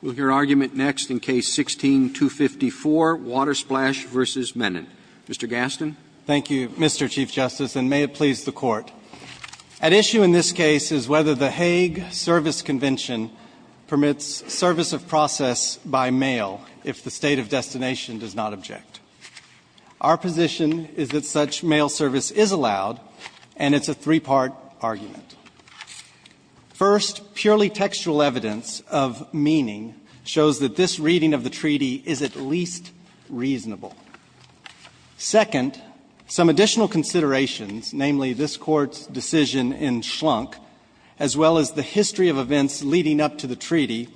We'll hear argument next in Case 16-254, Water Splash v. Menon. Mr. Gaston. Thank you, Mr. Chief Justice, and may it please the Court. At issue in this case is whether the Hague Service Convention permits service of process by mail if the state of destination does not object. Our position is that such mail service is allowed, and it's a three-part argument. First, purely textual evidence of meaning shows that this reading of the treaty is at least reasonable. Second, some additional considerations, namely this Court's decision in Schlunk, as well as the history of events leading up to the treaty,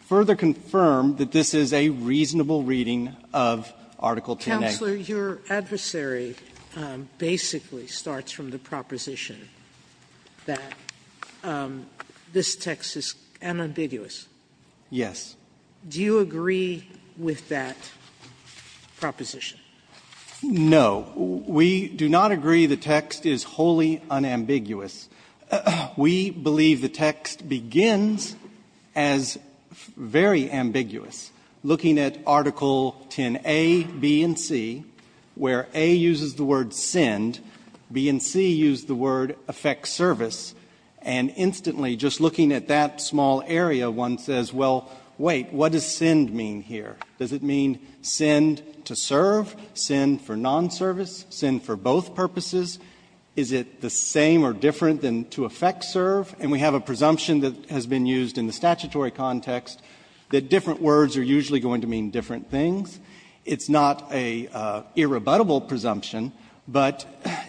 further confirm that this is a reasonable reading of Article 10a. Sotomayor, your adversary basically starts from the proposition that this text is unambiguous. Yes. Do you agree with that proposition? No. We do not agree the text is wholly unambiguous. We believe the text begins as very ambiguous, looking at Article 10a, b, and c, and b, and c, where a uses the word send, b and c use the word affect service, and instantly just looking at that small area, one says, well, wait, what does send mean here? Does it mean send to serve, send for nonservice, send for both purposes? Is it the same or different than to affect serve? And we have a presumption that has been used in the statutory context that different words are usually going to mean different things. It's not an irrebuttable presumption, but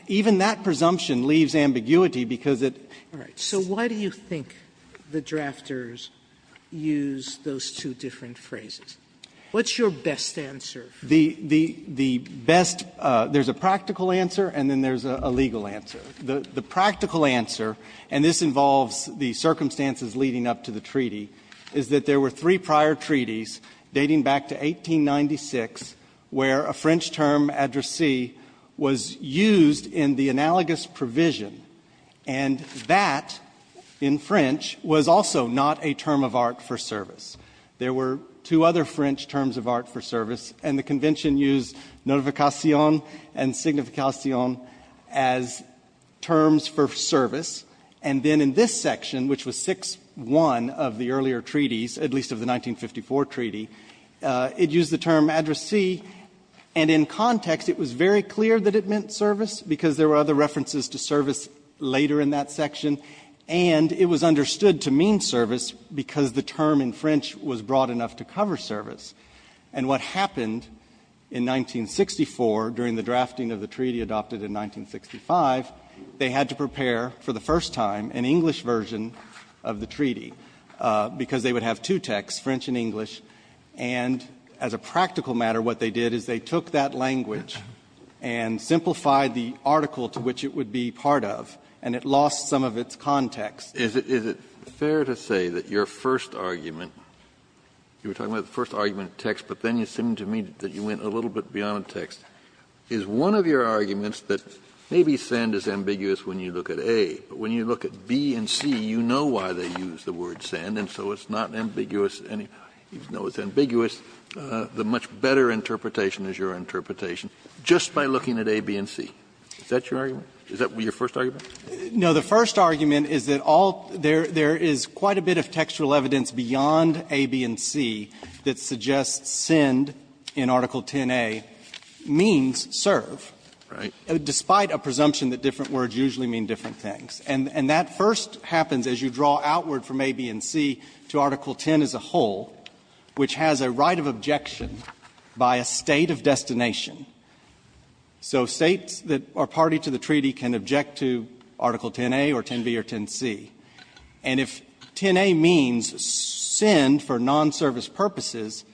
even that presumption leaves ambiguity because it's so ambiguous. So why do you think the drafters use those two different phrases? What's your best answer? The best there's a practical answer and then there's a legal answer. The practical answer, and this involves the circumstances leading up to the treaty, is that there were three prior treaties dating back to 1896 where a French term, addressee, was used in the analogous provision, and that in French was also not a term of art for service. There were two other French terms of art for service, and the Convention used notification and signification as terms for service. And then in this section, which was 6-1 of the earlier treaties, at least of the 1954 treaty, it used the term addressee, and in context it was very clear that it meant service because there were other references to service later in that section, and it was understood to mean service because the term in French was broad enough to cover service. And what happened in 1964 during the drafting of the treaty adopted in 1965, they had to prepare for the first time an English version of the treaty because they would have two texts, French and English, and as a practical matter, what they did is they took that language and simplified the article to which it would be part of, and it lost some of its context. Kennedy Is it fair to say that your first argument, you were talking about the first argument of text, but then it seemed to me that you went a little bit beyond text, is one of your arguments that maybe sand is ambiguous when you look at A, but when you look at B and C, you know why they use the word sand, and so it's not ambiguous any more. You know it's ambiguous. The much better interpretation is your interpretation just by looking at A, B, and C. Is that your argument? Is that your first argument? Now, the first argument is that all there is quite a bit of textual evidence beyond A, B, and C that suggests sand in Article 10a means serve. Right. Despite a presumption that different words usually mean different things. And that first happens as you draw outward from A, B, and C to Article 10 as a whole, which has a right of objection by a state of destination. So states that are party to the treaty can object to Article 10a or 10b or 10c. And if 10a means sand for nonservice purposes,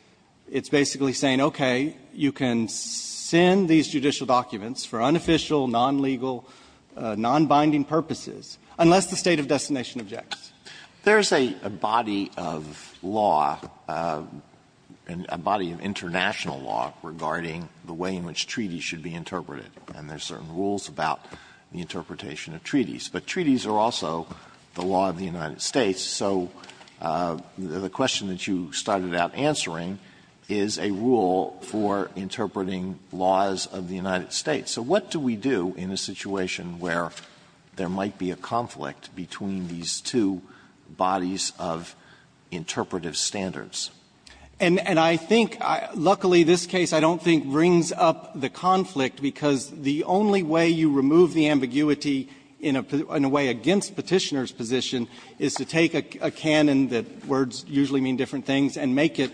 it's basically saying, okay, you can sand these judicial documents for unofficial, nonlegal, nonbinding purposes, unless the state of destination objects. Alitoso, there is a body of law, a body of international law regarding the way in which treaties should be interpreted. And there are certain rules about the interpretation of treaties. But treaties are also the law of the United States. So the question that you started out answering is a rule for interpreting laws of the United States. So what do we do in a situation where there might be a conflict between these two bodies of interpretive standards? And I think, luckily, this case I don't think brings up the conflict, because the only way you remove the ambiguity in a way against Petitioner's position is to take a canon that words usually mean different things and make it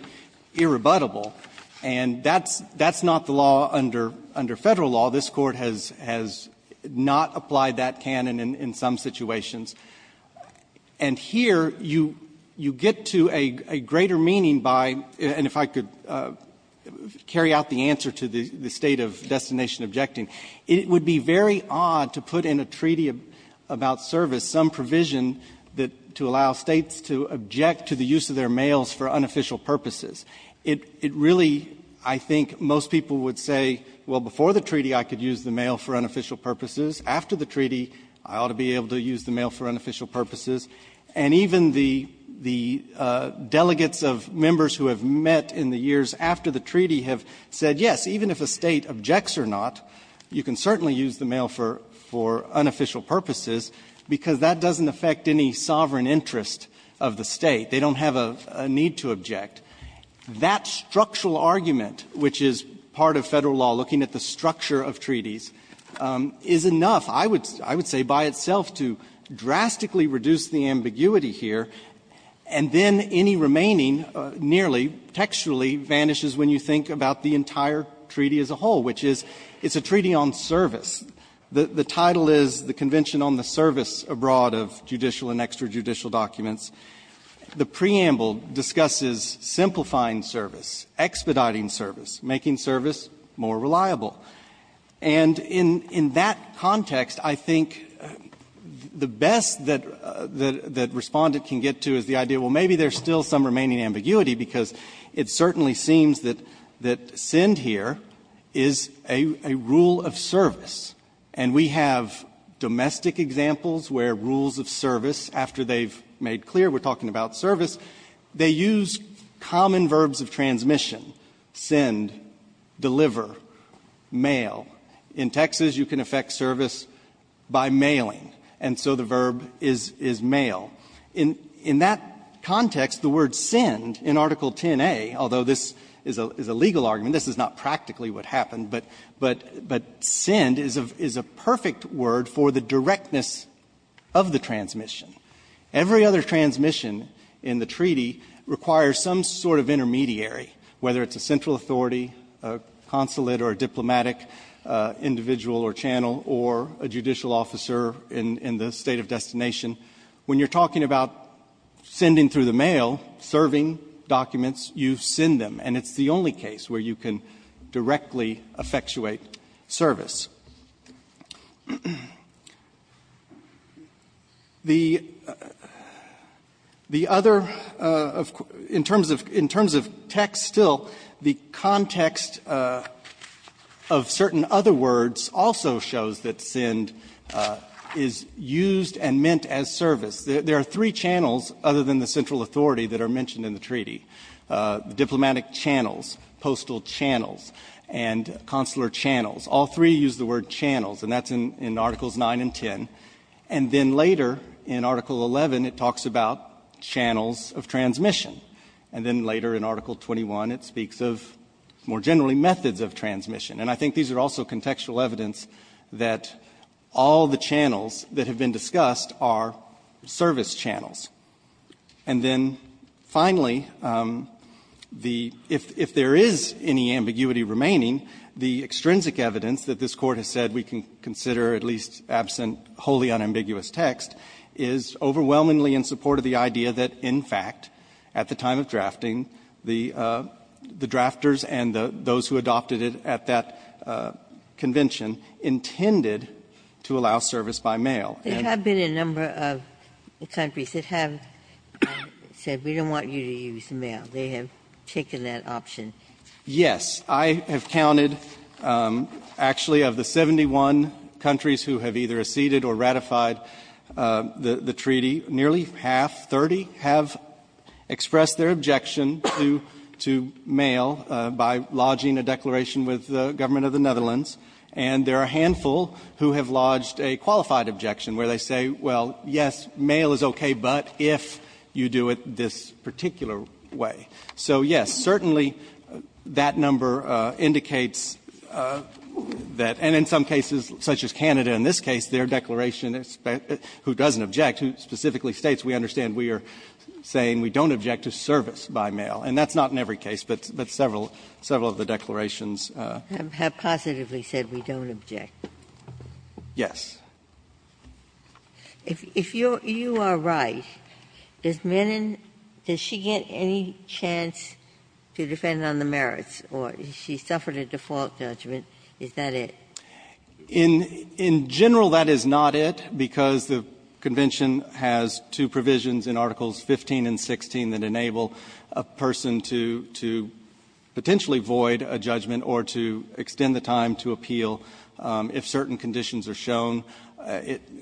irrebuttable. And that's not the law under Federal law. This Court has not applied that canon in some situations. And here you get to a greater meaning by, and if I could carry out the answer to the state of destination objecting, it would be very odd to put in a treaty about service some provision that to allow States to object to the use of their mails for unofficial purposes. It really, I think, most people would say, well, before the treaty I could use the mail for unofficial purposes. After the treaty, I ought to be able to use the mail for unofficial purposes. And even the delegates of members who have met in the years after the treaty have said, yes, even if a State objects or not, you can certainly use the mail for unofficial purposes, because that doesn't affect any sovereign interest of the State. They don't have a need to object. That structural argument, which is part of Federal law, looking at the structure of treaties, is enough, I would say, by itself to drastically reduce the ambiguity here, and then any remaining nearly textually vanishes when you think about the entire treaty as a whole, which is it's a treaty on service. The title is the Convention on the Service Abroad of Judicial and Extrajudicial Documents. The preamble discusses simplifying service, expediting service, making service more reliable. And in that context, I think the best that Respondent can get to is the idea, well, maybe there's still some remaining ambiguity, because it certainly seems that SEND here is a rule of service. And we have domestic examples where rules of service, after they've made clear we're talking about service, they use common verbs of transmission, SEND, deliver, mail. In Texas, you can effect service by mailing, and so the verb is mail. In that context, the word SEND in Article 10a, although this is a legal argument, this is not practically what happened, but SEND is a perfect word for the directness of the transmission. Every other transmission in the treaty requires some sort of intermediary, whether it's a central authority, a consulate or a diplomatic individual or channel or a judicial officer in the State of Destination. When you're talking about sending through the mail, serving documents, you send them. And it's the only case where you can directly effectuate service. The other of quotation marks, in terms of text, in terms of text, in terms of text, still, the context of certain other words also shows that SEND is used and meant as service. There are three channels, other than the central authority, that are mentioned in the treaty, diplomatic channels, postal channels, and consular channels. All three use the word channels, and that's in Articles 9 and 10. And then later, in Article 11, it talks about channels of transmission. And then later, in Article 21, it speaks of, more generally, methods of transmission. And I think these are also contextual evidence that all the channels that have been discussed are service channels. And then, finally, the — if there is any ambiguity remaining, the extrinsic evidence that this Court has said we can consider, at least absent wholly unambiguous text, is overwhelmingly in support of the idea that, in fact, at the time of drafting, the drafters and those who adopted it at that convention intended to allow service by mail. And the other thing is that there have been a number of countries that have said we don't want you to use mail. They have taken that option. Yes. I have counted, actually, of the 71 countries who have either acceded or ratified the treaty, nearly half, 30, have expressed their objection to mail by lodging a declaration with the government of the Netherlands. And there are a handful who have lodged a qualified objection where they say, well, yes, mail is okay, but if you do it this particular way. So, yes, certainly that number indicates that — and in some cases, such as Canada in this case, their declaration, who doesn't object, specifically states we understand we are saying we don't object to service by mail. And that's not in every case, but several, several of the declarations. Ginsburg. Have positively said we don't object. Yes. If you are right, does Menon, does she get any chance to defend on the merits or if she suffered a default judgment, is that it? In general, that is not it, because the Convention has two provisions in Articles 15 and 16 that enable a person to potentially void a judgment or to extend the time to appeal if certain conditions are shown.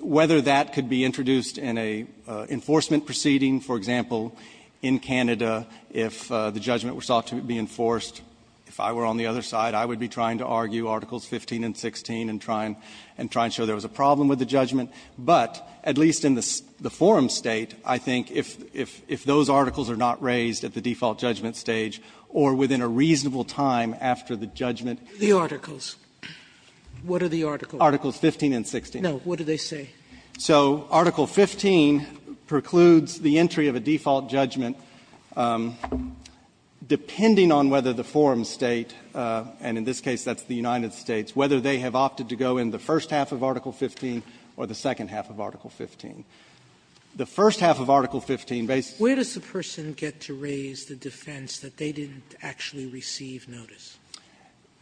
Whether that could be introduced in an enforcement proceeding, for example, in Canada, if the judgment were sought to be enforced, if I were on the other side, I would be trying to argue Articles 15 and 16 and try and show there was a problem with the judgment. But at least in the forum State, I think if those articles are not raised at the default judgment stage or within a reasonable time after the judgment. The articles. What are the articles? Articles 15 and 16. No. What do they say? So Article 15 precludes the entry of a default judgment, depending on whether the forum State, and in this case, that's the United States, whether they have opted to go in the first half of Article 15 or the second half of Article 15. The first half of Article 15, based on the first half of Article 15, where does the person get to raise the defense that they didn't actually receive notice?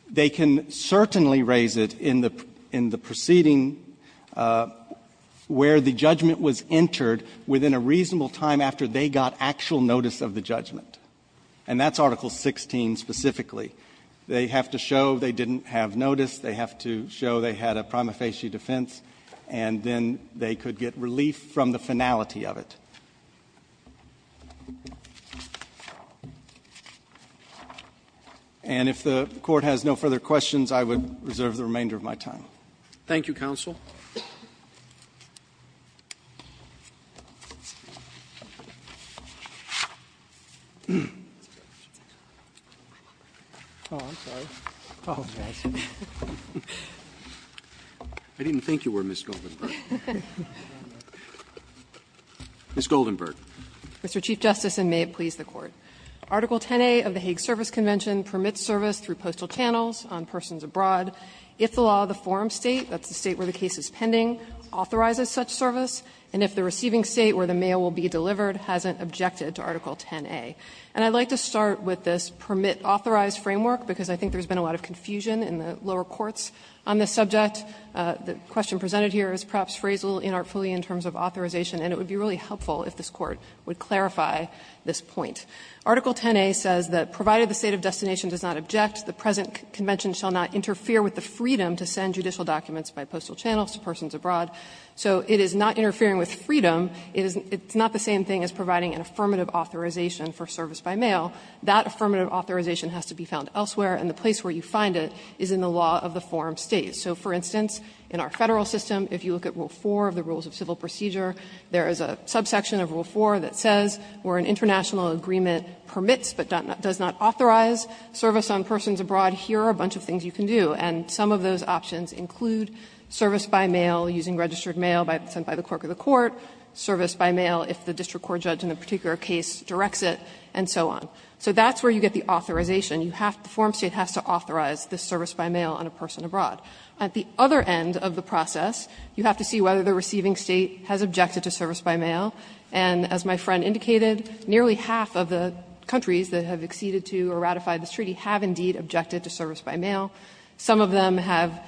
They can certainly raise it in the proceeding where the judgment was entered within a reasonable time after they got actual notice of the judgment. And that's Article 16 specifically. They have to show they didn't have notice. They have to show they had a prima facie defense. And then they could get relief from the finality of it. And if the Court has no further questions, I would reserve the remainder of my time. Thank you, counsel. I didn't think you were Ms. Goldenberg. Ms. Goldenberg. Mr. Chief Justice, and may it please the Court. Article 10a of the Hague Service Convention permits service through postal channels on persons abroad if the law of the forum State, that's the State where the case is pending, authorizes such service, and if the receiving State where the mail will be delivered hasn't objected to Article 10a. And I'd like to start with this permit-authorized framework, because I think there has been a lot of confusion in the lower courts on this subject. The question presented here is perhaps phrased a little inartfully in terms of authorization, and it would be really helpful if this Court would clarify this point. Article 10a says that, provided the State of destination does not object, the present convention shall not interfere with the freedom to send judicial documents by postal channels to persons abroad. So it is not interfering with freedom. It's not the same thing as providing an affirmative authorization for service by mail. That affirmative authorization has to be found elsewhere, and the place where you find it is in the law of the forum State. So, for instance, in our Federal system, if you look at Rule 4 of the Rules of Civil Procedure, there is a subsection of Rule 4 that says, where an international agreement permits but does not authorize service on persons abroad, here are a bunch of things you can do. And some of those options include service by mail using registered mail sent by the clerk of the court, service by mail if the district court judge in a particular case directs it, and so on. So that's where you get the authorization. You have to the forum State has to authorize this service by mail on a person abroad. At the other end of the process, you have to see whether the receiving State has objected to service by mail. And as my friend indicated, nearly half of the countries that have acceded to or ratified this treaty have indeed objected to service by mail. Some of them have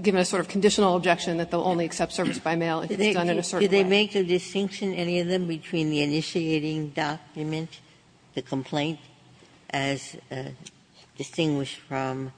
given a sort of conditional objection that they will only accept service by mail if it's done in a certain way. Ginsburg. Did they make a distinction, any of them, between the initiating document, the complaint as distinguished from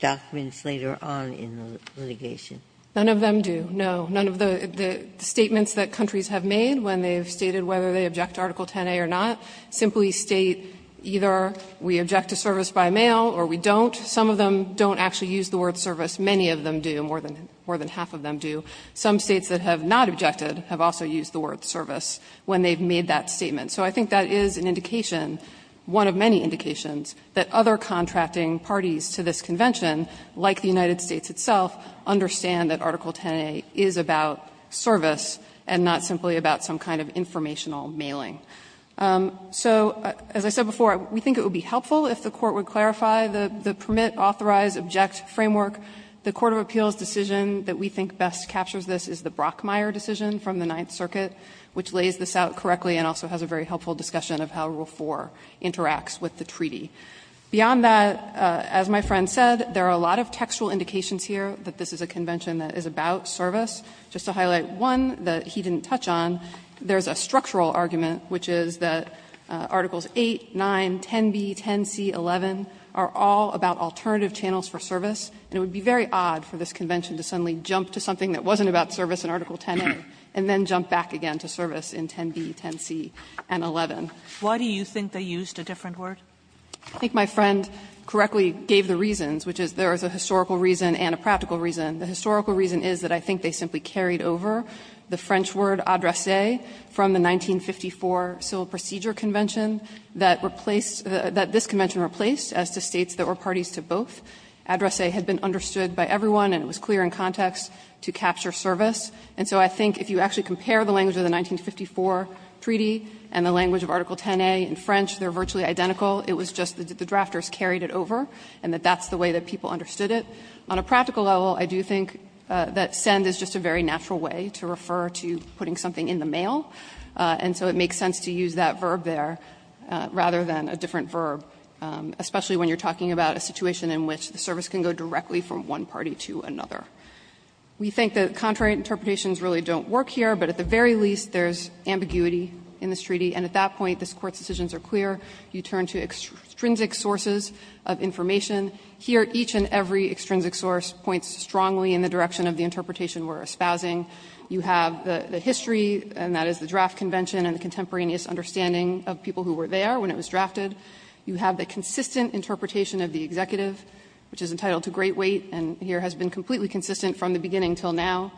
documents later on in the litigation? None of them do, no. None of the statements that countries have made when they've stated whether they object to Article 10a or not simply state either we object to service by mail or we don't. Some of them don't actually use the word service. Many of them do. More than half of them do. Some States that have not objected have also used the word service when they've made that statement. So I think that is an indication, one of many indications, that other contracting parties to this convention, like the United States itself, understand that Article 10a is about service and not simply about some kind of informational mailing. So as I said before, we think it would be helpful if the Court would clarify the permit, authorize, object framework. The court of appeals decision that we think best captures this is the Brockmeyer decision from the Ninth Circuit, which lays this out correctly and also has a very helpful discussion of how Rule 4 interacts with the treaty. Beyond that, as my friend said, there are a lot of textual indications here that this is a convention that is about service. Just to highlight one that he didn't touch on, there is a structural argument, which is that Articles 8, 9, 10b, 10c, 11 are all about alternative channels for service, and it would be very odd for this convention to suddenly jump to something that wasn't about service in Article 10a and then jump back again to service in 10b, 10c, and 11. Sotomayor, why do you think they used a different word? I think my friend correctly gave the reasons, which is there is a historical reason and a practical reason. The historical reason is that I think they simply carried over the French word adresse from the 1954 Civil Procedure Convention that replaced, that this convention replaced, as to States that were parties to both. Adresse had been understood by everyone and it was clear in context to capture service. And so I think if you actually compare the language of the 1954 treaty and the language of Article 10a in French, they are virtually identical. It was just that the drafters carried it over and that that's the way that people understood it. On a practical level, I do think that send is just a very natural way to refer to putting something in the mail, and so it makes sense to use that verb there rather than a different We think the contrary interpretations really don't work here, but at the very least there is ambiguity in this treaty, and at that point this Court's decisions are clear. You turn to extrinsic sources of information. Here, each and every extrinsic source points strongly in the direction of the interpretation we are espousing. You have the history, and that is the draft convention and the contemporaneous understanding of people who were there when it was drafted. You have the consistent interpretation of the executive, which is entitled to great weight, and here has been completely consistent from the beginning until now.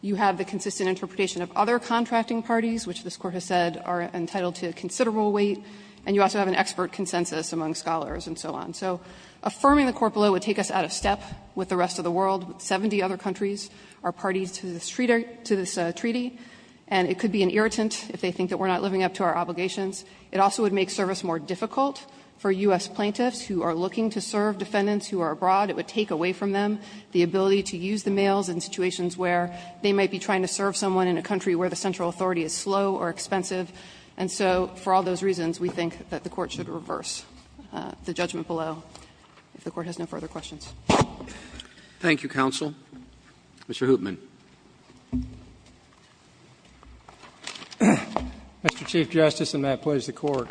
You have the consistent interpretation of other contracting parties, which this Court has said are entitled to considerable weight, and you also have an expert consensus among scholars and so on. So affirming the corpola would take us out of step with the rest of the world, 70 other countries are parties to this treaty, and it could be an irritant if they think that we are not living up to our obligations. It also would make service more difficult for U.S. plaintiffs who are looking to serve defendants who are abroad. It would take away from them the ability to use the mails in situations where they might be trying to serve someone in a country where the central authority is slow or expensive. And so for all those reasons, we think that the Court should reverse the judgment below. If the Court has no further questions. Roberts. Thank you, counsel. Mr. Hoopman. Mr. Chief Justice, and may it please the Court.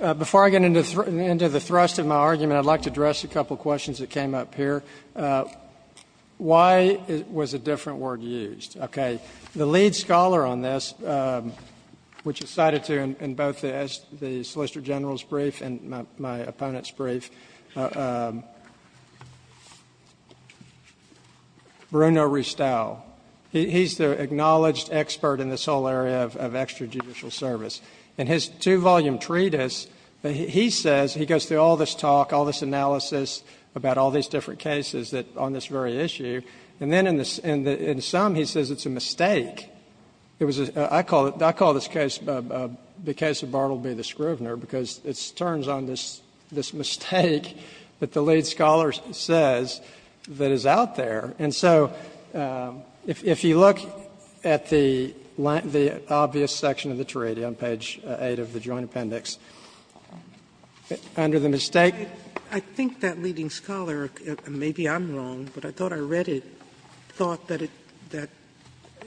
Before I get into the thrust of my argument, I would like to address a couple of questions that came up here. Why was a different word used? Okay. The lead scholar on this, which is cited in both the Solicitor General's brief and my opponent's brief, Bruno Ristow. He's the acknowledged expert in this whole area of extrajudicial service. In his two-volume treatise, he says, he goes through all this talk, all this analysis about all these different cases on this very issue, and then in some, he says it's a mistake. I call this case the case of Bartleby the Scrivener because it turns on this mistake that the lead scholar says that is out there. And so if you look at the obvious section of the treaty on page 8 of the Joint Appendix, under the mistake. Sotomayor, I think that leading scholar, and maybe I'm wrong, but I thought I read it, thought that it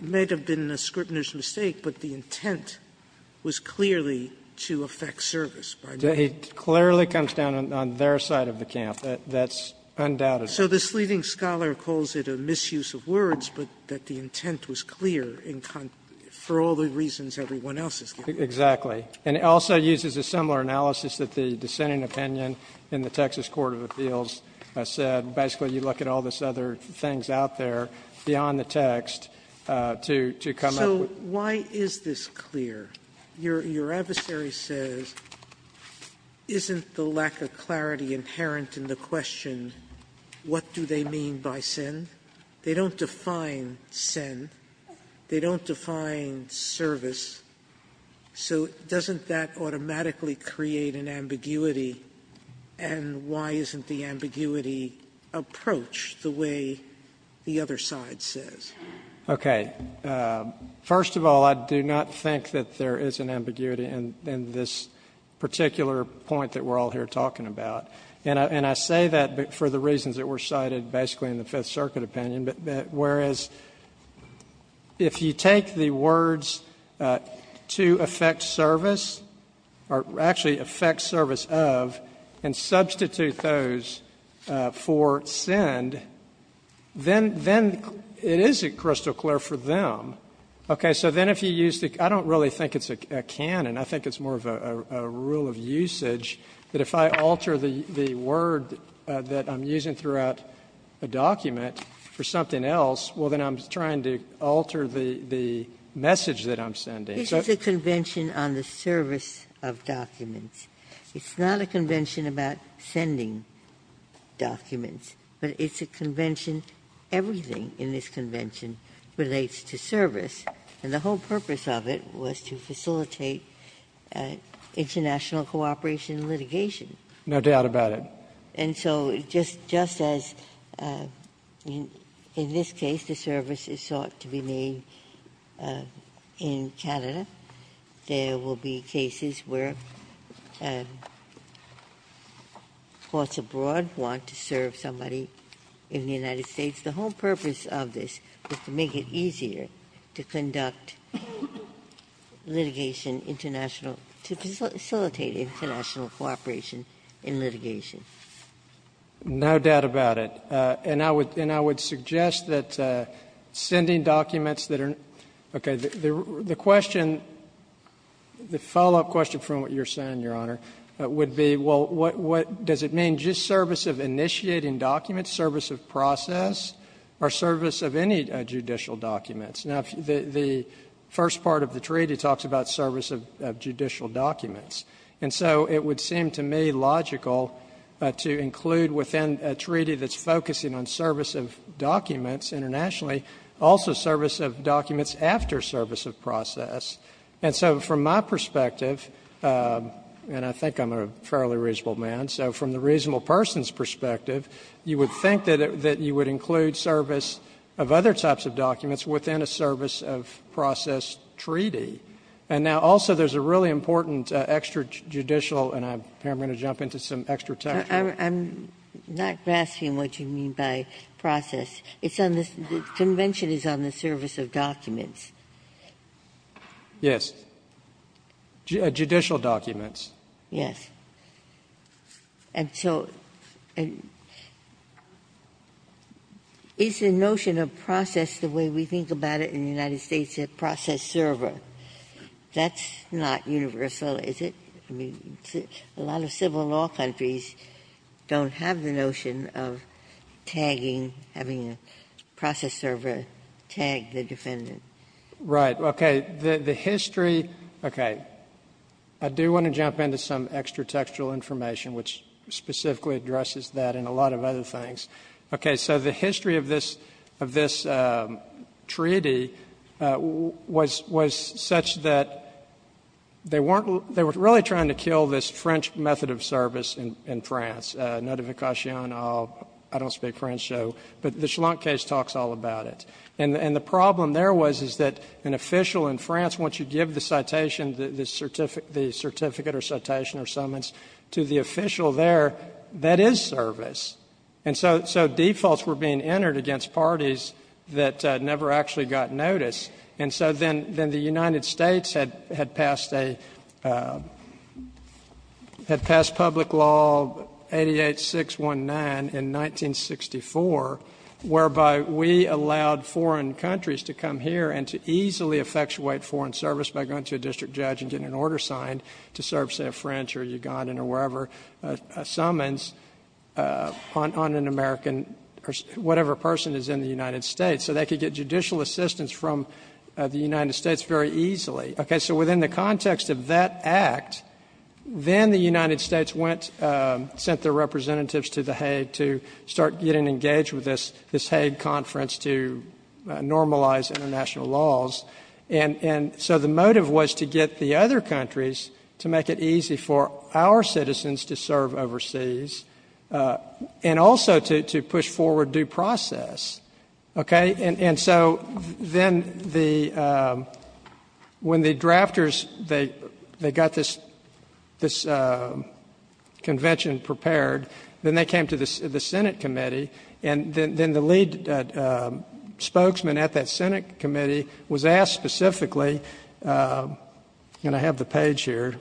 may have been a Scrivener's mistake, but the intent was clearly to affect service. He clearly comes down on their side of the camp. That's undoubted. Sotomayor, so this leading scholar calls it a misuse of words, but that the intent was clear for all the reasons everyone else is giving. Exactly. And it also uses a similar analysis that the dissenting opinion in the Texas Court of Appeals said. Basically, you look at all these other things out there beyond the text to come up with. So why is this clear? Your adversary says, isn't the lack of clarity inherent in the question, what do they mean by send? They don't define send. They don't define service. So doesn't that automatically create an ambiguity? And why isn't the ambiguity approached the way the other side says? OK. First of all, I do not think that there is an ambiguity in this particular point that we're all here talking about. And I say that for the reasons that were cited basically in the Fifth Circuit opinion, but whereas if you take the words to affect service, or actually affect service of, and substitute those for send, then it isn't crystal clear for the other side to say, well, I don't really think it's a can, and I think it's more of a rule of usage, that if I alter the word that I'm using throughout a document for something else, well, then I'm trying to alter the message that I'm sending. This is a convention on the service of documents. It's not a convention about sending documents, but it's a convention, everything in this convention relates to service. And the whole purpose of it was to facilitate international cooperation and litigation. No doubt about it. And so just as in this case the service is sought to be made in Canada, there will be cases where courts abroad want to serve somebody in the United States. The whole purpose of this was to make it easier to conduct litigation international to facilitate international cooperation in litigation. No doubt about it. And I would suggest that sending documents that are okay. The question, the follow-up question from what you're saying, Your Honor, would be, well, does it mean just service of initiating documents, service of process? Or service of any judicial documents? Now, the first part of the treaty talks about service of judicial documents. And so it would seem to me logical to include within a treaty that's focusing on service of documents internationally also service of documents after service of process. And so from my perspective, and I think I'm a fairly reasonable man, so from the reasonable person's perspective, you would think that you would include service of other types of documents within a service of process treaty. And now, also, there's a really important extrajudicial, and I'm going to jump into some extra text here. Ginsburg. I'm not grasping what you mean by process. It's on the convention is on the service of documents. Yes. Judicial documents. Yes. And so is the notion of process the way we think about it in the United States, a process server? That's not universal, is it? I mean, a lot of civil law countries don't have the notion of tagging, having a process server tag the defendant. Right. Okay. The history, okay, I do want to jump into some extra textual information, which specifically addresses that and a lot of other things. Okay. So the history of this treaty was such that they were really trying to kill this French method of service in France, notification of, I don't speak French, so, but the Schlunk case talks all about it. And the problem there was, is that an official in France, once you give the citation, the certificate or citation or summons to the official there, that is service. And so defaults were being entered against parties that never actually got notice. And so then the United States had passed a, had passed public law 88-619 in 1964, whereby we allowed foreign countries to come here and to easily effectuate foreign service by going to a district judge and getting an order signed to serve, say, a French or Ugandan or wherever summons on an American or whatever person is in the United States. So they could get judicial assistance from the United States very easily. Okay. So within the context of that act, then the United States went, sent their representatives to the Hague to start getting engaged with this, this Hague conference to normalize international laws. And, and so the motive was to get the other countries to make it easy for our citizens to serve overseas and also to, to push forward due process. Okay. And, and so then the when the drafters, they, they got this, this convention prepared, then they came to the Senate committee and then, then the lead spokesman at that Senate committee was asked specifically, and I have the page here,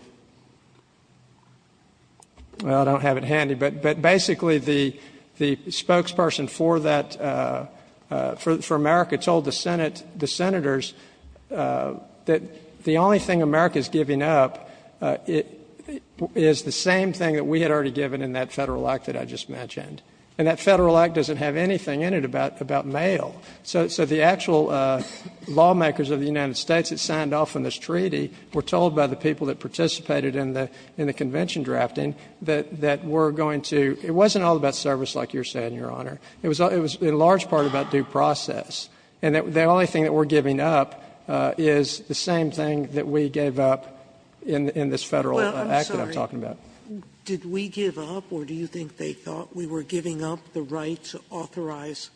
well, I don't have it handy, but, but basically the, the spokesperson for that for, for America told the Senate, the senators that the only thing America is giving up is the same thing that we had already given in that federal act that I just mentioned. And that federal act doesn't have anything in it about, about mail. So, so the actual lawmakers of the United States that signed off on this treaty were told by the people that participated in the, in the convention drafting that, that we're going to, it wasn't all about service. Like you're saying, Your Honor, it was, it was in large part about due process. And that the only thing that we're giving up is the same thing that we gave up in, in this federal act that I'm talking about. Did we give up, or do you think they thought we were giving up the right to authorize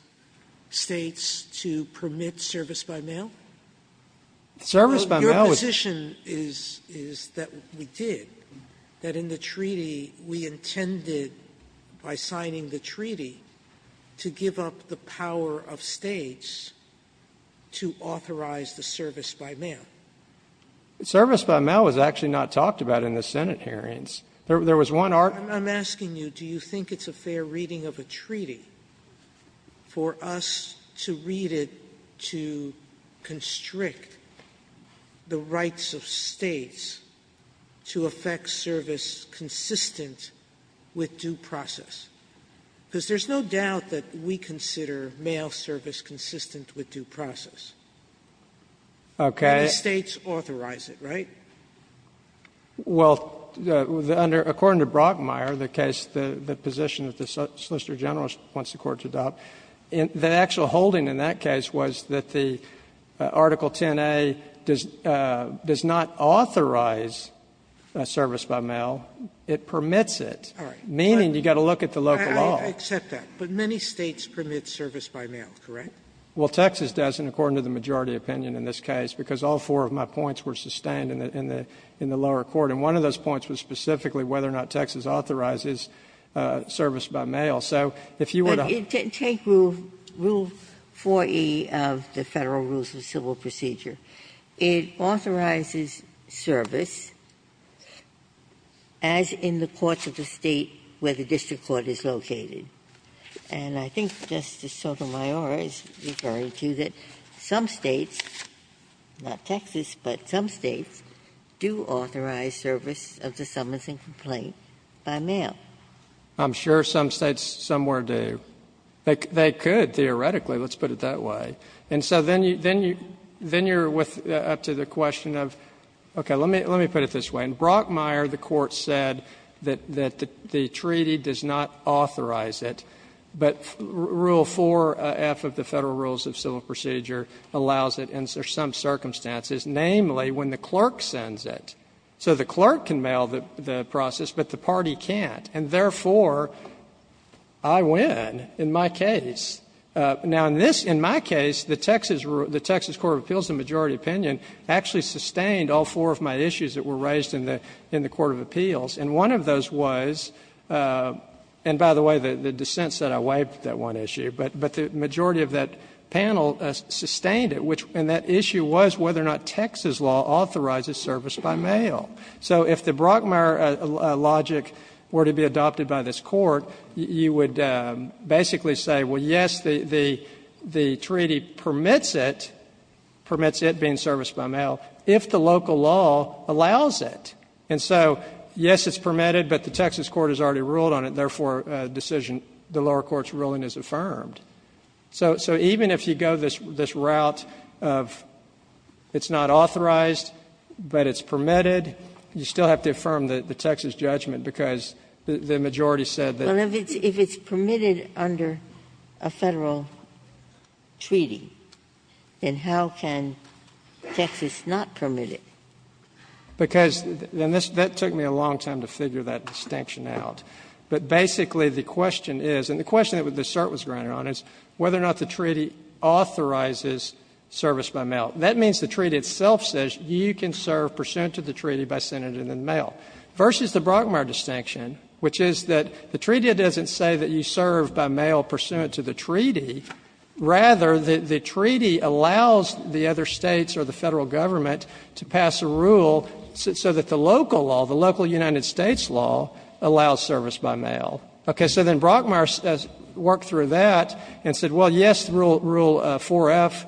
States to permit service by mail? Service by mail was Your position is, is that we did. That in the treaty, we intended, by signing the treaty, to give up the power of States to authorize the service by mail. Service by mail was actually not talked about in the Senate hearings. There was one art. I'm asking you, do you think it's a fair reading of a treaty for us to read it, to constrict the rights of States to affect service consistent with due process? Because there's no doubt that we consider mail service consistent with due process. Okay. The States authorize it, right? Well, under, according to Brockmeyer, the case, the position of the Solicitor General wants the Court to adopt, the actual holding in that case was that the Article 10a does, does not authorize service by mail. It permits it, meaning you've got to look at the local law. I accept that, but many States permit service by mail, correct? Well, Texas doesn't, according to the majority opinion in this case, because all four of my points were sustained in the, in the, in the lower court, and one of those points was specifically whether or not Texas authorizes service by mail. So if you were to But take Rule 4e of the Federal Rules of Civil Procedure. It authorizes service as in the courts of the State where the district court is located. And I think Justice Sotomayor is referring to that some States, not Texas, but some States do authorize service of the summonsing complaint by mail. I'm sure some States somewhere do. They could, theoretically. Let's put it that way. And so then you, then you, then you're with, up to the question of, okay, let me, let me put it this way. In Brockmeyer, the Court said that, that the treaty does not authorize it, but Rule 4f of the Federal Rules of Civil Procedure allows it in some circumstances, namely when the clerk sends it. So the clerk can mail the process, but the party can't. And therefore, I win in my case. Now, in this, in my case, the Texas, the Texas Court of Appeals in majority opinion, actually sustained all four of my issues that were raised in the, in the Court of Appeals. And one of those was, and by the way, the dissent said I wiped that one issue. But, but the majority of that panel sustained it, which, and that issue was whether or not Texas law authorizes service by mail. So if the Brockmeyer logic were to be adopted by this Court, you would basically say, well, yes, the, the, the treaty permits it, permits it being serviced by mail if the local law allows it. And so, yes, it's permitted, but the Texas court has already ruled on it, therefore a decision, the lower court's ruling is affirmed. So, so even if you go this, this route of it's not authorized, but it's permitted, you still have to affirm the, the Texas judgment, because the majority said that Ginsburg. Well, if it's, if it's permitted under a Federal treaty, then how can Texas not permit it? Because, and this, that took me a long time to figure that distinction out. But basically the question is, and the question that the cert was granted on is whether or not the treaty authorizes service by mail. That means the treaty itself says you can serve pursuant to the treaty by sending it in the mail. Versus the Brockmeyer distinction, which is that the treaty doesn't say that you serve by mail pursuant to the treaty. Rather, the, the treaty allows the other states or the Federal government to pass a rule so that the local law, the local United States law allows service by mail. Okay, so then Brockmeyer worked through that and said, well, yes, rule, rule 4F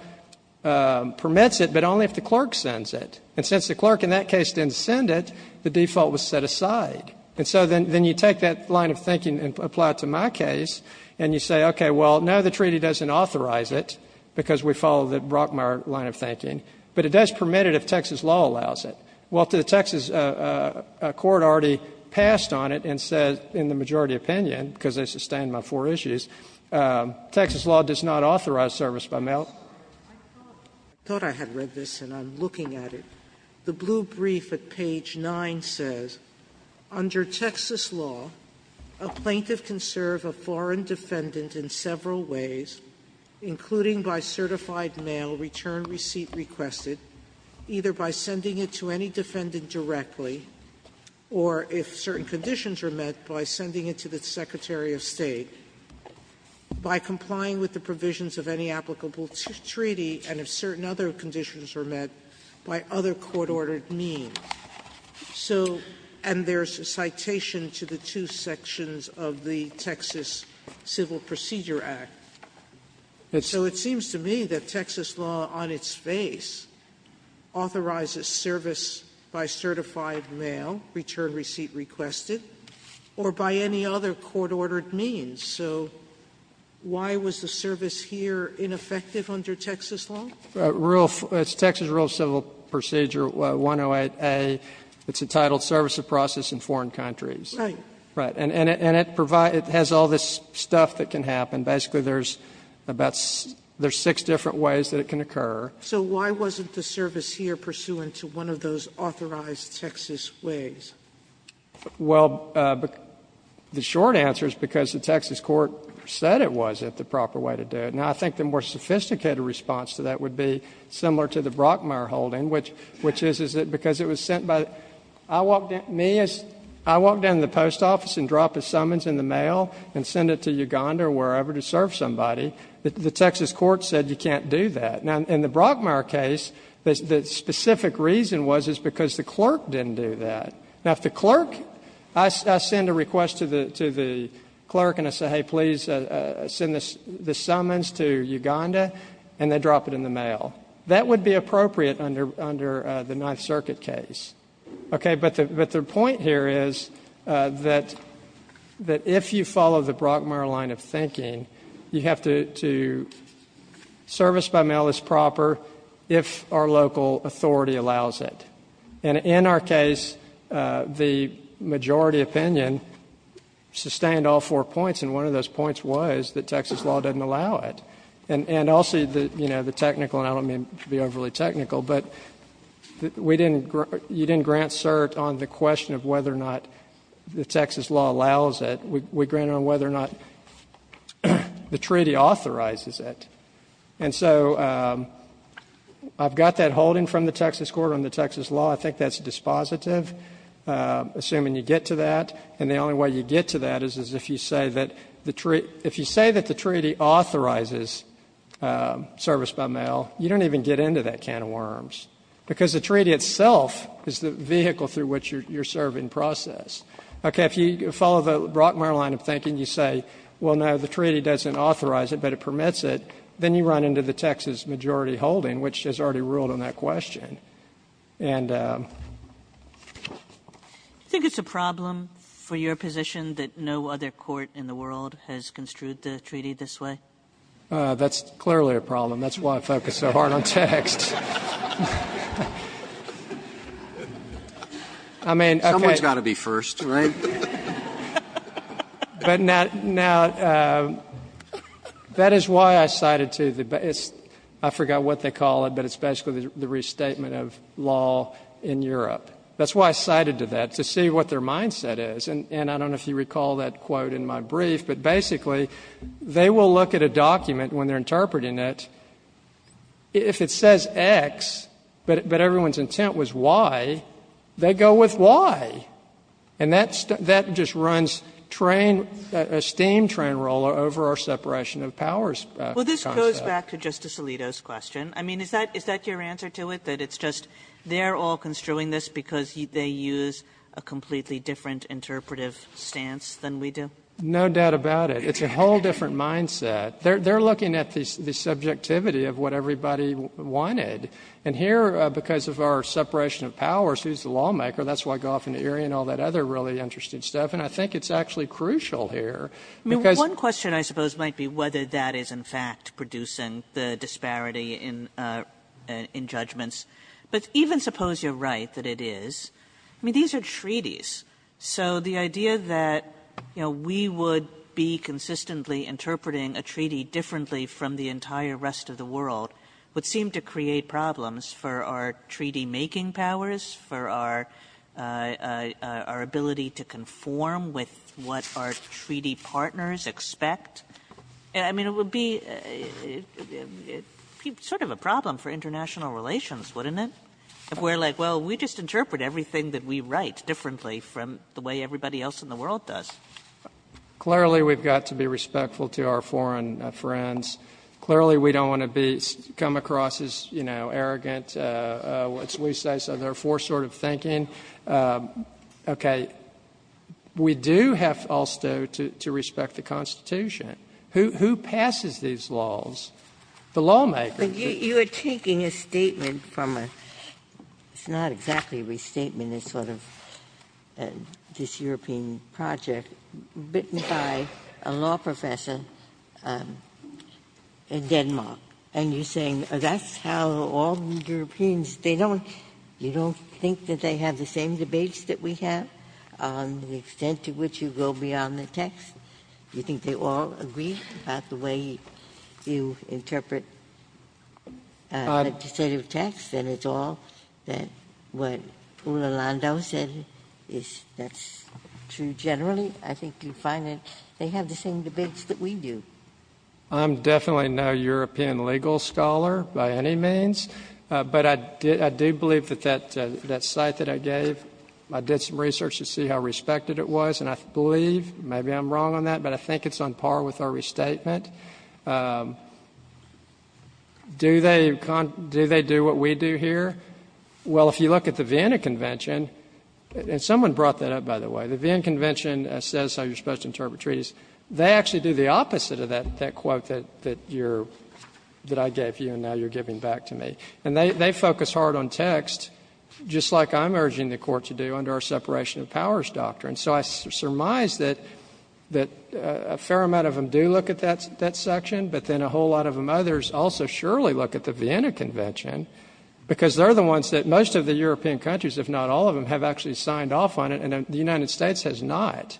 permits it, but only if the clerk sends it. And since the clerk in that case didn't send it, the default was set aside. And so then, then you take that line of thinking and apply it to my case, and you say, okay, well, no, the treaty doesn't authorize it because we follow the Brockmeyer line of thinking, but it does permit it if Texas law allows it. Well, the Texas court already passed on it and said, in the majority opinion, because they sustained my four issues, Texas law does not authorize service by mail. Sotomayor, I thought I had read this, and I'm looking at it. The blue brief at page 9 says, under Texas law, a plaintiff can serve a foreign defendant in several ways, including by certified mail return receipt requested, either by sending it to any defendant directly, or if certain conditions are met, by sending it to the Secretary of State, by complying with the provisions of any applicable treaty, and if certain other conditions are met, by other court-ordered means. So and there's a citation to the two sections of the Texas Civil Procedure Act. So it seems to me that Texas law on its face authorizes service by certified mail return receipt requested, or by any other court-ordered means. So why was the service here ineffective under Texas law? It's Texas Rural Civil Procedure 108A. It's entitled Service of Process in Foreign Countries. Right. Right. And it has all this stuff that can happen. Basically, there's six different ways that it can occur. So why wasn't the service here pursuant to one of those authorized Texas ways? Well, the short answer is because the Texas court said it was, if the proper way to do it. Now, I think the more sophisticated response to that would be similar to the Brockmire holding, which is, is that because it was sent by the — I walked down to the post office and dropped a summons in the mail and sent it to Uganda or wherever to serve somebody. The Texas court said you can't do that. Now, in the Brockmire case, the specific reason was is because the clerk didn't do that. Now, if the clerk — I send a request to the clerk and I say, hey, please send the summons to Uganda, and they drop it in the mail. That would be appropriate under the Ninth Circuit case. Okay, but the point here is that if you follow the Brockmire line of thinking, you have to — service by mail is proper if our local authority allows it. And in our case, the majority opinion sustained all four points, and one of those points was that Texas law doesn't allow it. And also, you know, the technical — and I don't mean to be overly technical, but we didn't — you didn't grant cert on the question of whether or not the Texas law allows it. We granted on whether or not the treaty authorizes it. And so I've got that holding from the Texas court on the Texas law. I think that's dispositive, assuming you get to that. And the only way you get to that is if you say that the treaty — if you say that the treaty authorizes service by mail, you don't even get into that can of worms, because the treaty itself is the vehicle through which you're serving process. Okay. If you follow the Brockmire line of thinking, you say, well, no, the treaty doesn't authorize it, but it permits it, then you run into the Texas majority holding, which has already ruled on that question. And — Kagan I think it's a problem for your position that no other court in the world has construed the treaty this way. Gershengorn That's clearly a problem. That's why I focus so hard on text. I mean, okay. Roberts Someone's got to be first, right? Gershengorn But now — now, that is why I cited to the — I forgot what they call it, but it's basically the restatement of law in Europe. That's why I cited to that, to see what their mindset is. And I don't know if you recall that quote in my brief, but basically, they will look at a document when they're interpreting it. If it says X, but everyone's intent was Y, they go with Y. And that's — that just runs train — a steam train roller over our separation of powers concept. Kagan Well, this goes back to Justice Alito's question. I mean, is that — is that your answer to it, that it's just they're all construing this because they use a completely different interpretive stance than we do? Gershengorn No doubt about it. It's a whole different mindset. They're — they're looking at the subjectivity of what everybody wanted. And here, because of our separation of powers, who's the lawmaker? That's why Goff and Erie and all that other really interesting stuff. And I think it's actually crucial here, because — Kagan One question, I suppose, might be whether that is, in fact, producing the disparity in — in judgments. But even suppose you're right, that it is. I mean, these are treaties. So the idea that, you know, we would be consistently interpreting a treaty differently from the entire rest of the world would seem to create problems for our treaty-making powers, for our — our ability to conform with what our treaty partners expect. I mean, it would be — it would be sort of a problem for international relations, wouldn't it, if we're like, well, we just interpret everything that we write differently from the way everybody else in the world does? Gershengorn Clearly, we've got to be respectful to our foreign friends. Clearly, we don't want to be — come across as, you know, arrogant, what's we say, so therefore sort of thinking. Okay. We do have also to respect the Constitution. Who — who passes these laws? The lawmakers. Ginsburg You are taking a statement from a — it's not exactly a restatement, it's sort of this European project, written by a law professor in Denmark, and you're saying that's how all Europeans — they don't — you don't think that they have the same debates that we have on the extent to which you go beyond the text? You think they all agree about the way you interpret legislative text, and it's all that what Poula Landau said is — that's true generally? I think you find that they have the same debates that we do. Gershengorn I'm definitely no European legal scholar by any means, but I do believe that that — that site that I gave, I did some research to see how respected it was, and I believe — maybe I'm wrong on that, but I think it's on par with our restatement. Do they — do they do what we do here? Well, if you look at the Vienna Convention — and someone brought that up, by the way. The Vienna Convention says how you're supposed to interpret treaties. They actually do the opposite of that quote that you're — that I gave you, and now you're giving back to me. And they focus hard on text, just like I'm urging the Court to do under our separation of powers doctrine. So I surmise that a fair amount of them do look at that section, but then a whole lot of them, others, also surely look at the Vienna Convention, because they're the ones that — most of the European countries, if not all of them, have actually signed off on it, and the United States has not.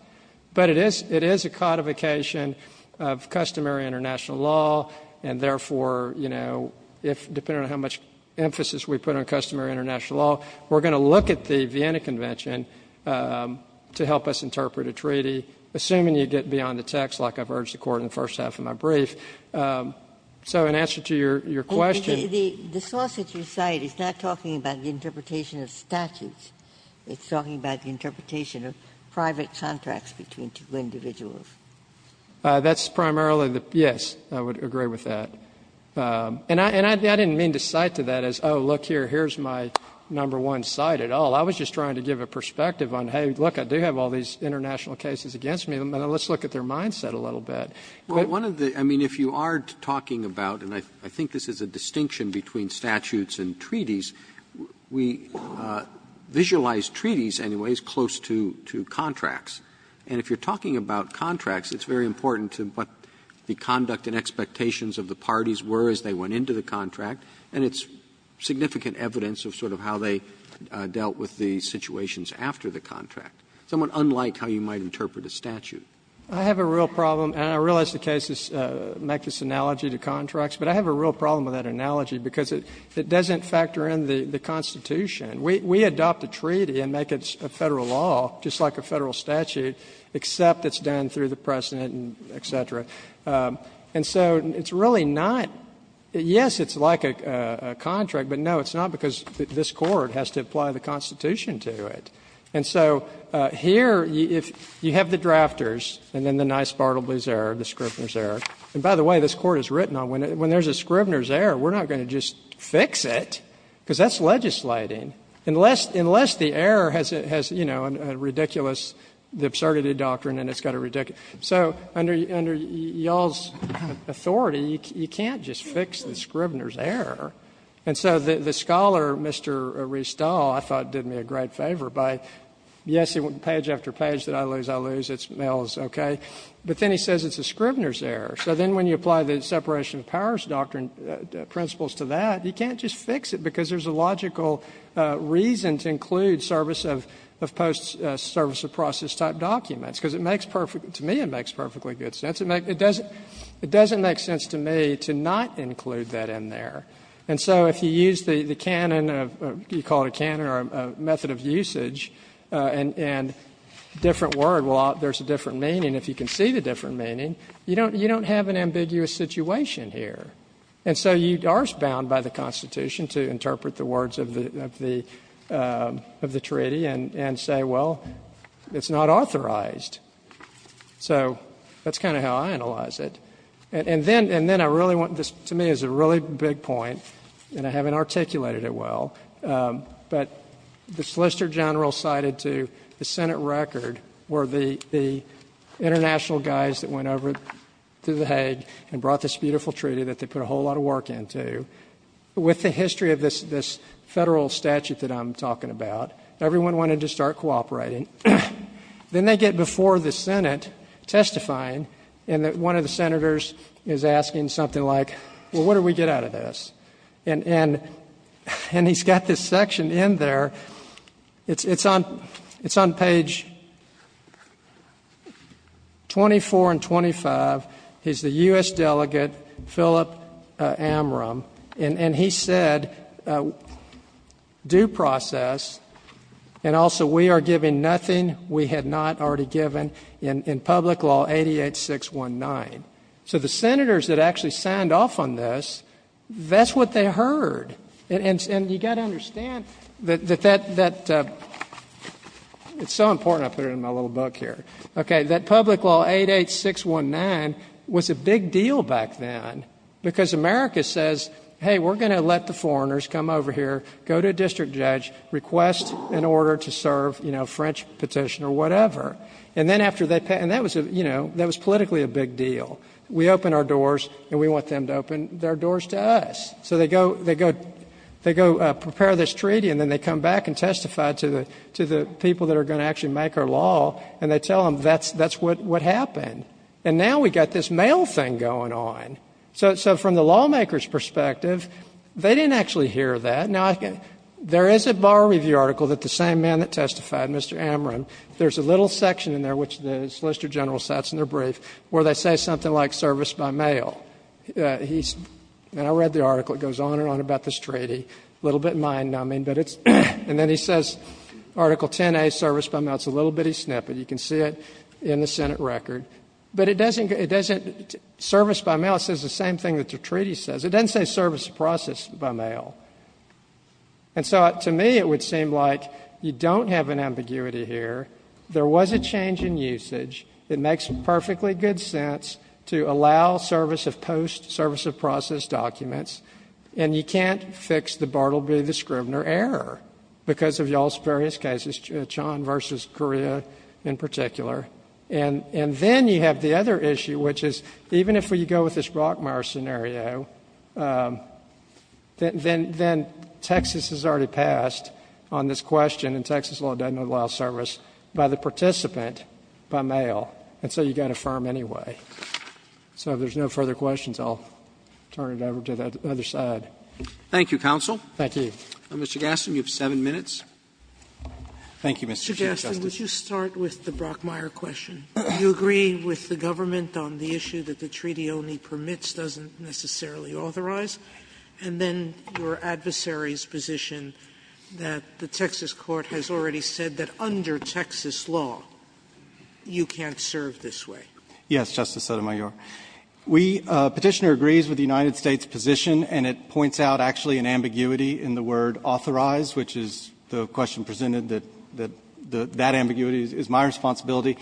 But it is — it is a codification of customary international law, and therefore, you know, if — depending on how much emphasis we put on customary international law, we're going to look at the Vienna Convention to help us interpret a treaty, assuming you get beyond the text, like I've urged the Court in the first half of my brief. So in answer to your question — Ginsburg's lawsuit, you cite, is not talking about the interpretation of statutes. It's talking about the interpretation of private contracts between two individuals. That's primarily the — yes, I would agree with that. And I — and I didn't mean to cite to that as, oh, look here, here's my number one site at all. I was just trying to give a perspective on, hey, look, I do have all these international cases against me. Let's look at their mindset a little bit. One of the — I mean, if you are talking about — and I think this is a distinction between statutes and treaties. We visualize treaties, anyways, close to — to contracts. And if you're talking about contracts, it's very important to what the conduct and expectations of the parties were as they went into the contract, and it's significant evidence of sort of how they dealt with the situations after the contract, somewhat unlike how you might interpret a statute. I have a real problem, and I realize the case is a mechanist analogy to contracts, but I have a real problem with that analogy because it doesn't factor in the Constitution. We adopt a treaty and make it a Federal law, just like a Federal statute, except it's done through the precedent and et cetera. And so it's really not — yes, it's like a contract, but no, it's not because this Court has to apply the Constitution to it. And so here, if you have the drafters and then the nice Bartleby's error, the Scribner's error, we're not going to just fix it, because that's legislating, unless — unless the error has, you know, a ridiculous — the absurdity doctrine and it's got a ridiculous — so under — under y'all's authority, you can't just fix the Scribner's error. And so the scholar, Mr. Restall, I thought did me a great favor by, yes, page after page that I lose, I lose, it's Mills, okay, but then he says it's a Scribner's error. So then when you apply the separation of powers doctrine principles to that, you can't just fix it, because there's a logical reason to include service of post — service of process type documents, because it makes perfect — to me it makes perfectly good sense. It doesn't make sense to me to not include that in there. And so if you use the canon of — you call it a canon or a method of usage, and a different word, well, there's a different meaning, if you can see the different meaning, you don't — you don't have an ambiguous situation here. And so you are bound by the Constitution to interpret the words of the — of the treaty and say, well, it's not authorized. So that's kind of how I analyze it. And then — and then I really want — this, to me, is a really big point, and I haven't articulated it well, but the solicitor general cited to the Senate record were the international guys that went over to the Hague and brought this beautiful treaty that they put a whole lot of work into. With the history of this — this Federal statute that I'm talking about, everyone wanted to start cooperating. Then they get before the Senate testifying, and one of the senators is asking something like, well, what do we get out of this? And — and he's got this section in there. It's on — it's on page 24 and 25. He's the U.S. delegate, Philip Amrum, and he said due process, and also we are given nothing we had not already given in public law 88-619. So the senators that actually signed off on this, that's what they heard. And you've got to understand that — that — it's so important I put it in my little book here, okay, that public law 88-619 was a big deal back then because America says, hey, we're going to let the foreigners come over here, go to a district judge, request an order to serve, you know, a French petition or whatever. And then after they — and that was a — you know, that was politically a big deal. We opened our doors, and we want them to open their doors to us. So they go — they go — they go prepare this treaty, and then they come back and testify to the — to the people that are going to actually make our law, and they tell them that's — that's what — what happened. And now we've got this mail thing going on. So — so from the lawmakers' perspective, they didn't actually hear that. Now, there is a Bar Review article that the same man that testified, Mr. Amrum, there's a little section in there, which the Solicitor General sets in their brief, where they say something like service by mail. He's — and I read the article. It goes on and on about this treaty. A little bit mind-numbing, but it's — and then he says article 10A, service by mail. It's a little bitty snippet. You can see it in the Senate record. But it doesn't — it doesn't — service by mail says the same thing that the treaty says. It doesn't say service processed by mail. And so to me, it would seem like you don't have an ambiguity here. There was a change in usage. It makes perfectly good sense to allow service of post, service of processed documents. And you can't fix the Bartleby v. Scrivener error because of y'all's various cases, Chan v. Correa in particular. And then you have the other issue, which is even if we go with this Brockmeyer scenario, then — then Texas has already passed on this question, and Texas law doesn't allow service by the participant by mail. And so you've got to affirm anyway. So if there's no further questions, I'll turn it over to the other side. Roberts. Thank you, counsel. Thank you. Mr. Gaston, you have seven minutes. Thank you, Mr. Chief Justice. Mr. Gaston, would you start with the Brockmeyer question? Do you agree with the government on the issue that the treaty only permits doesn't necessarily authorize? And then your adversary's position that the Texas court has already said that under Texas law, you can't serve this way. Yes, Justice Sotomayor. We — Petitioner agrees with the United States' position, and it points out actually an ambiguity in the word authorize, which is the question presented that — that ambiguity is my responsibility.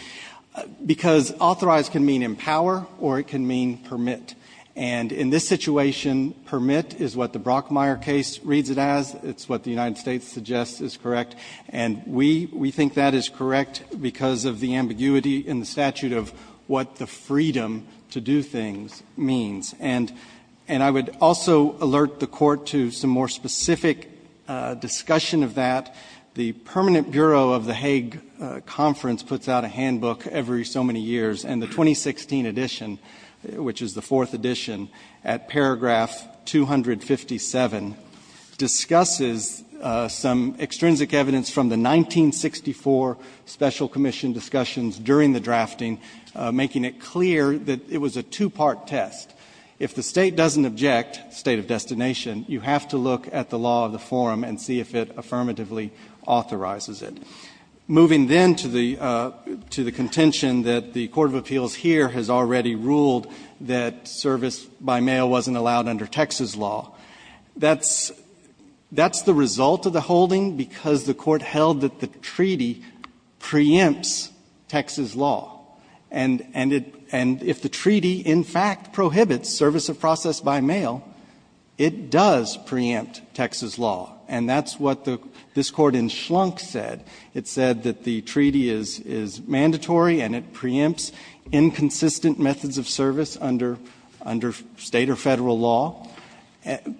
Because authorize can mean empower or it can mean permit. And in this situation, permit is what the Brockmeyer case reads it as. It's what the United States suggests is correct. And we — we think that is correct because of the ambiguity in the statute of what the freedom to do things means. And — and I would also alert the Court to some more specific discussion of that. The Permanent Bureau of the Hague Conference puts out a handbook every so many years, and the 2016 edition, which is the fourth edition, at paragraph 257, discusses some extrinsic evidence from the 1964 special commission discussions during the drafting, making it clear that it was a two-part test. If the State doesn't object, state of destination, you have to look at the law of the forum and see if it affirmatively authorizes it. Moving then to the — to the contention that the court of appeals here has already ruled that service by mail wasn't allowed under Texas law, that's — that's the result of the holding because the Court held that the treaty preempts Texas law. And — and it — and if the treaty in fact prohibits service of process by mail, it does preempt Texas law. And that's what the — this Court in Schlunk said. It said that the treaty is — is mandatory, and it preempts inconsistent methods of service under — under State or Federal law.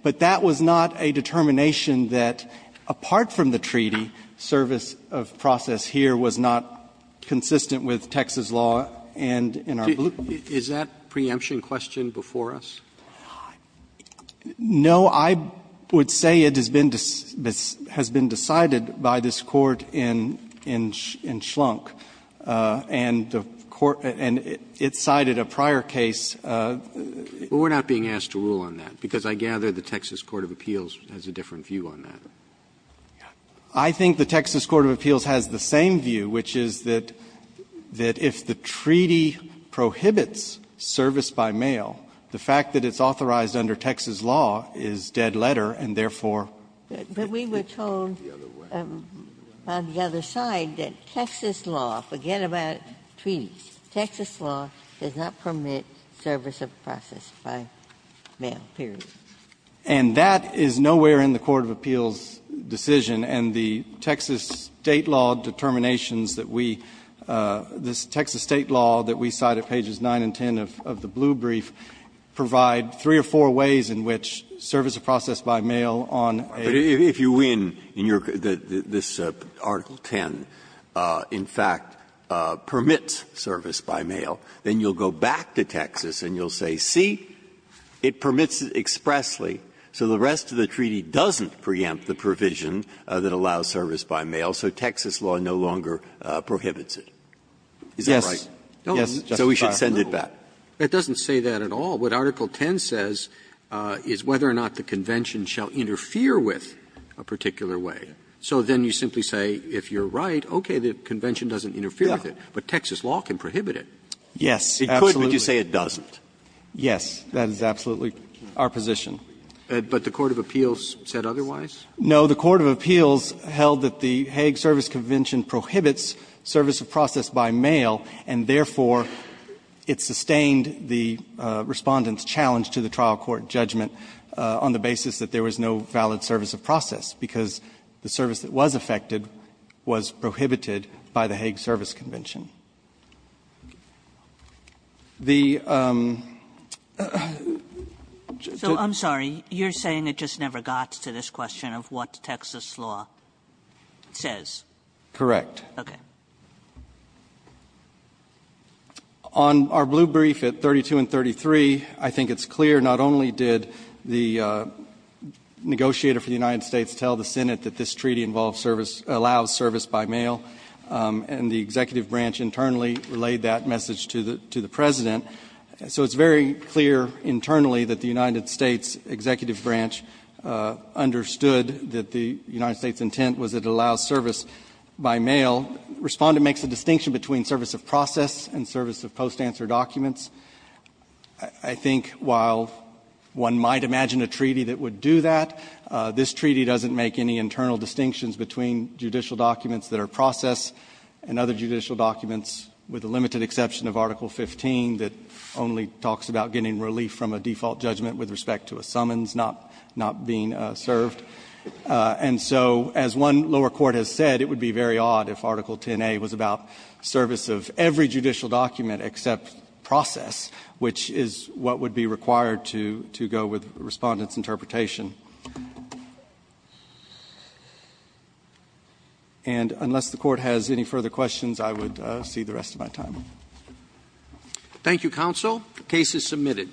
But that was not a determination that, apart from the treaty, service of process here was not consistent with Texas law and in our belief. Roberts. Is that preemption question before us? No, I would say it has been — has been decided by this Court in — in — in Schlunk. And the Court — and it cited a prior case. But we're not being asked to rule on that, because I gather the Texas court of appeals has a different view on that. I think the Texas court of appeals has the same view, which is that — that if the Texas law is dead letter, and therefore — But we were told on the other side that Texas law, forget about treaties, Texas law does not permit service of process by mail, period. And that is nowhere in the court of appeals' decision. And the Texas State law determinations that we — this Texas State law that we cite at pages 9 and 10 of the blue brief provide three or four ways in which service of process by mail on a — But if you win in your — this Article 10, in fact, permits service by mail, then you'll go back to Texas and you'll say, see, it permits expressly, so the rest of the treaty doesn't preempt the provision that allows service by mail, so Texas law no longer prohibits it. Is that right? Yes. So we should send it back. It doesn't say that at all. What Article 10 says is whether or not the convention shall interfere with a particular way. So then you simply say, if you're right, okay, the convention doesn't interfere with it, but Texas law can prohibit it. Yes. It could, but you say it doesn't. Yes. That is absolutely our position. But the court of appeals said otherwise? No. The court of appeals held that the Hague Service Convention prohibits service of process by mail, and therefore, it sustained the Respondent's challenge to the trial court judgment on the basis that there was no valid service of process, because the service that was effected was prohibited by the Hague Service Convention. The — So I'm sorry, you're saying it just never got to this question of what Texas law says? Correct. Okay. On our blue brief at 32 and 33, I think it's clear not only did the negotiator for the United States tell the Senate that this treaty involves service — allows service by mail, and the executive branch internally relayed that message to the — to the President. So it's very clear internally that the United States executive branch understood that the United States' intent was it allows service by mail. Respondent makes a distinction between service of process and service of post-answer documents. I think while one might imagine a treaty that would do that, this treaty doesn't make any internal distinctions between judicial documents that are process and other judicial documents, with the limited exception of Article 15 that only talks about getting relief from a default judgment with respect to a summons not — not being served. And so, as one lower court has said, it would be very odd if Article 10a was about service of every judicial document except process, which is what would be required to — to go with Respondent's interpretation. And unless the Court has any further questions, I would cede the rest of my time. Thank you, counsel. The case is submitted.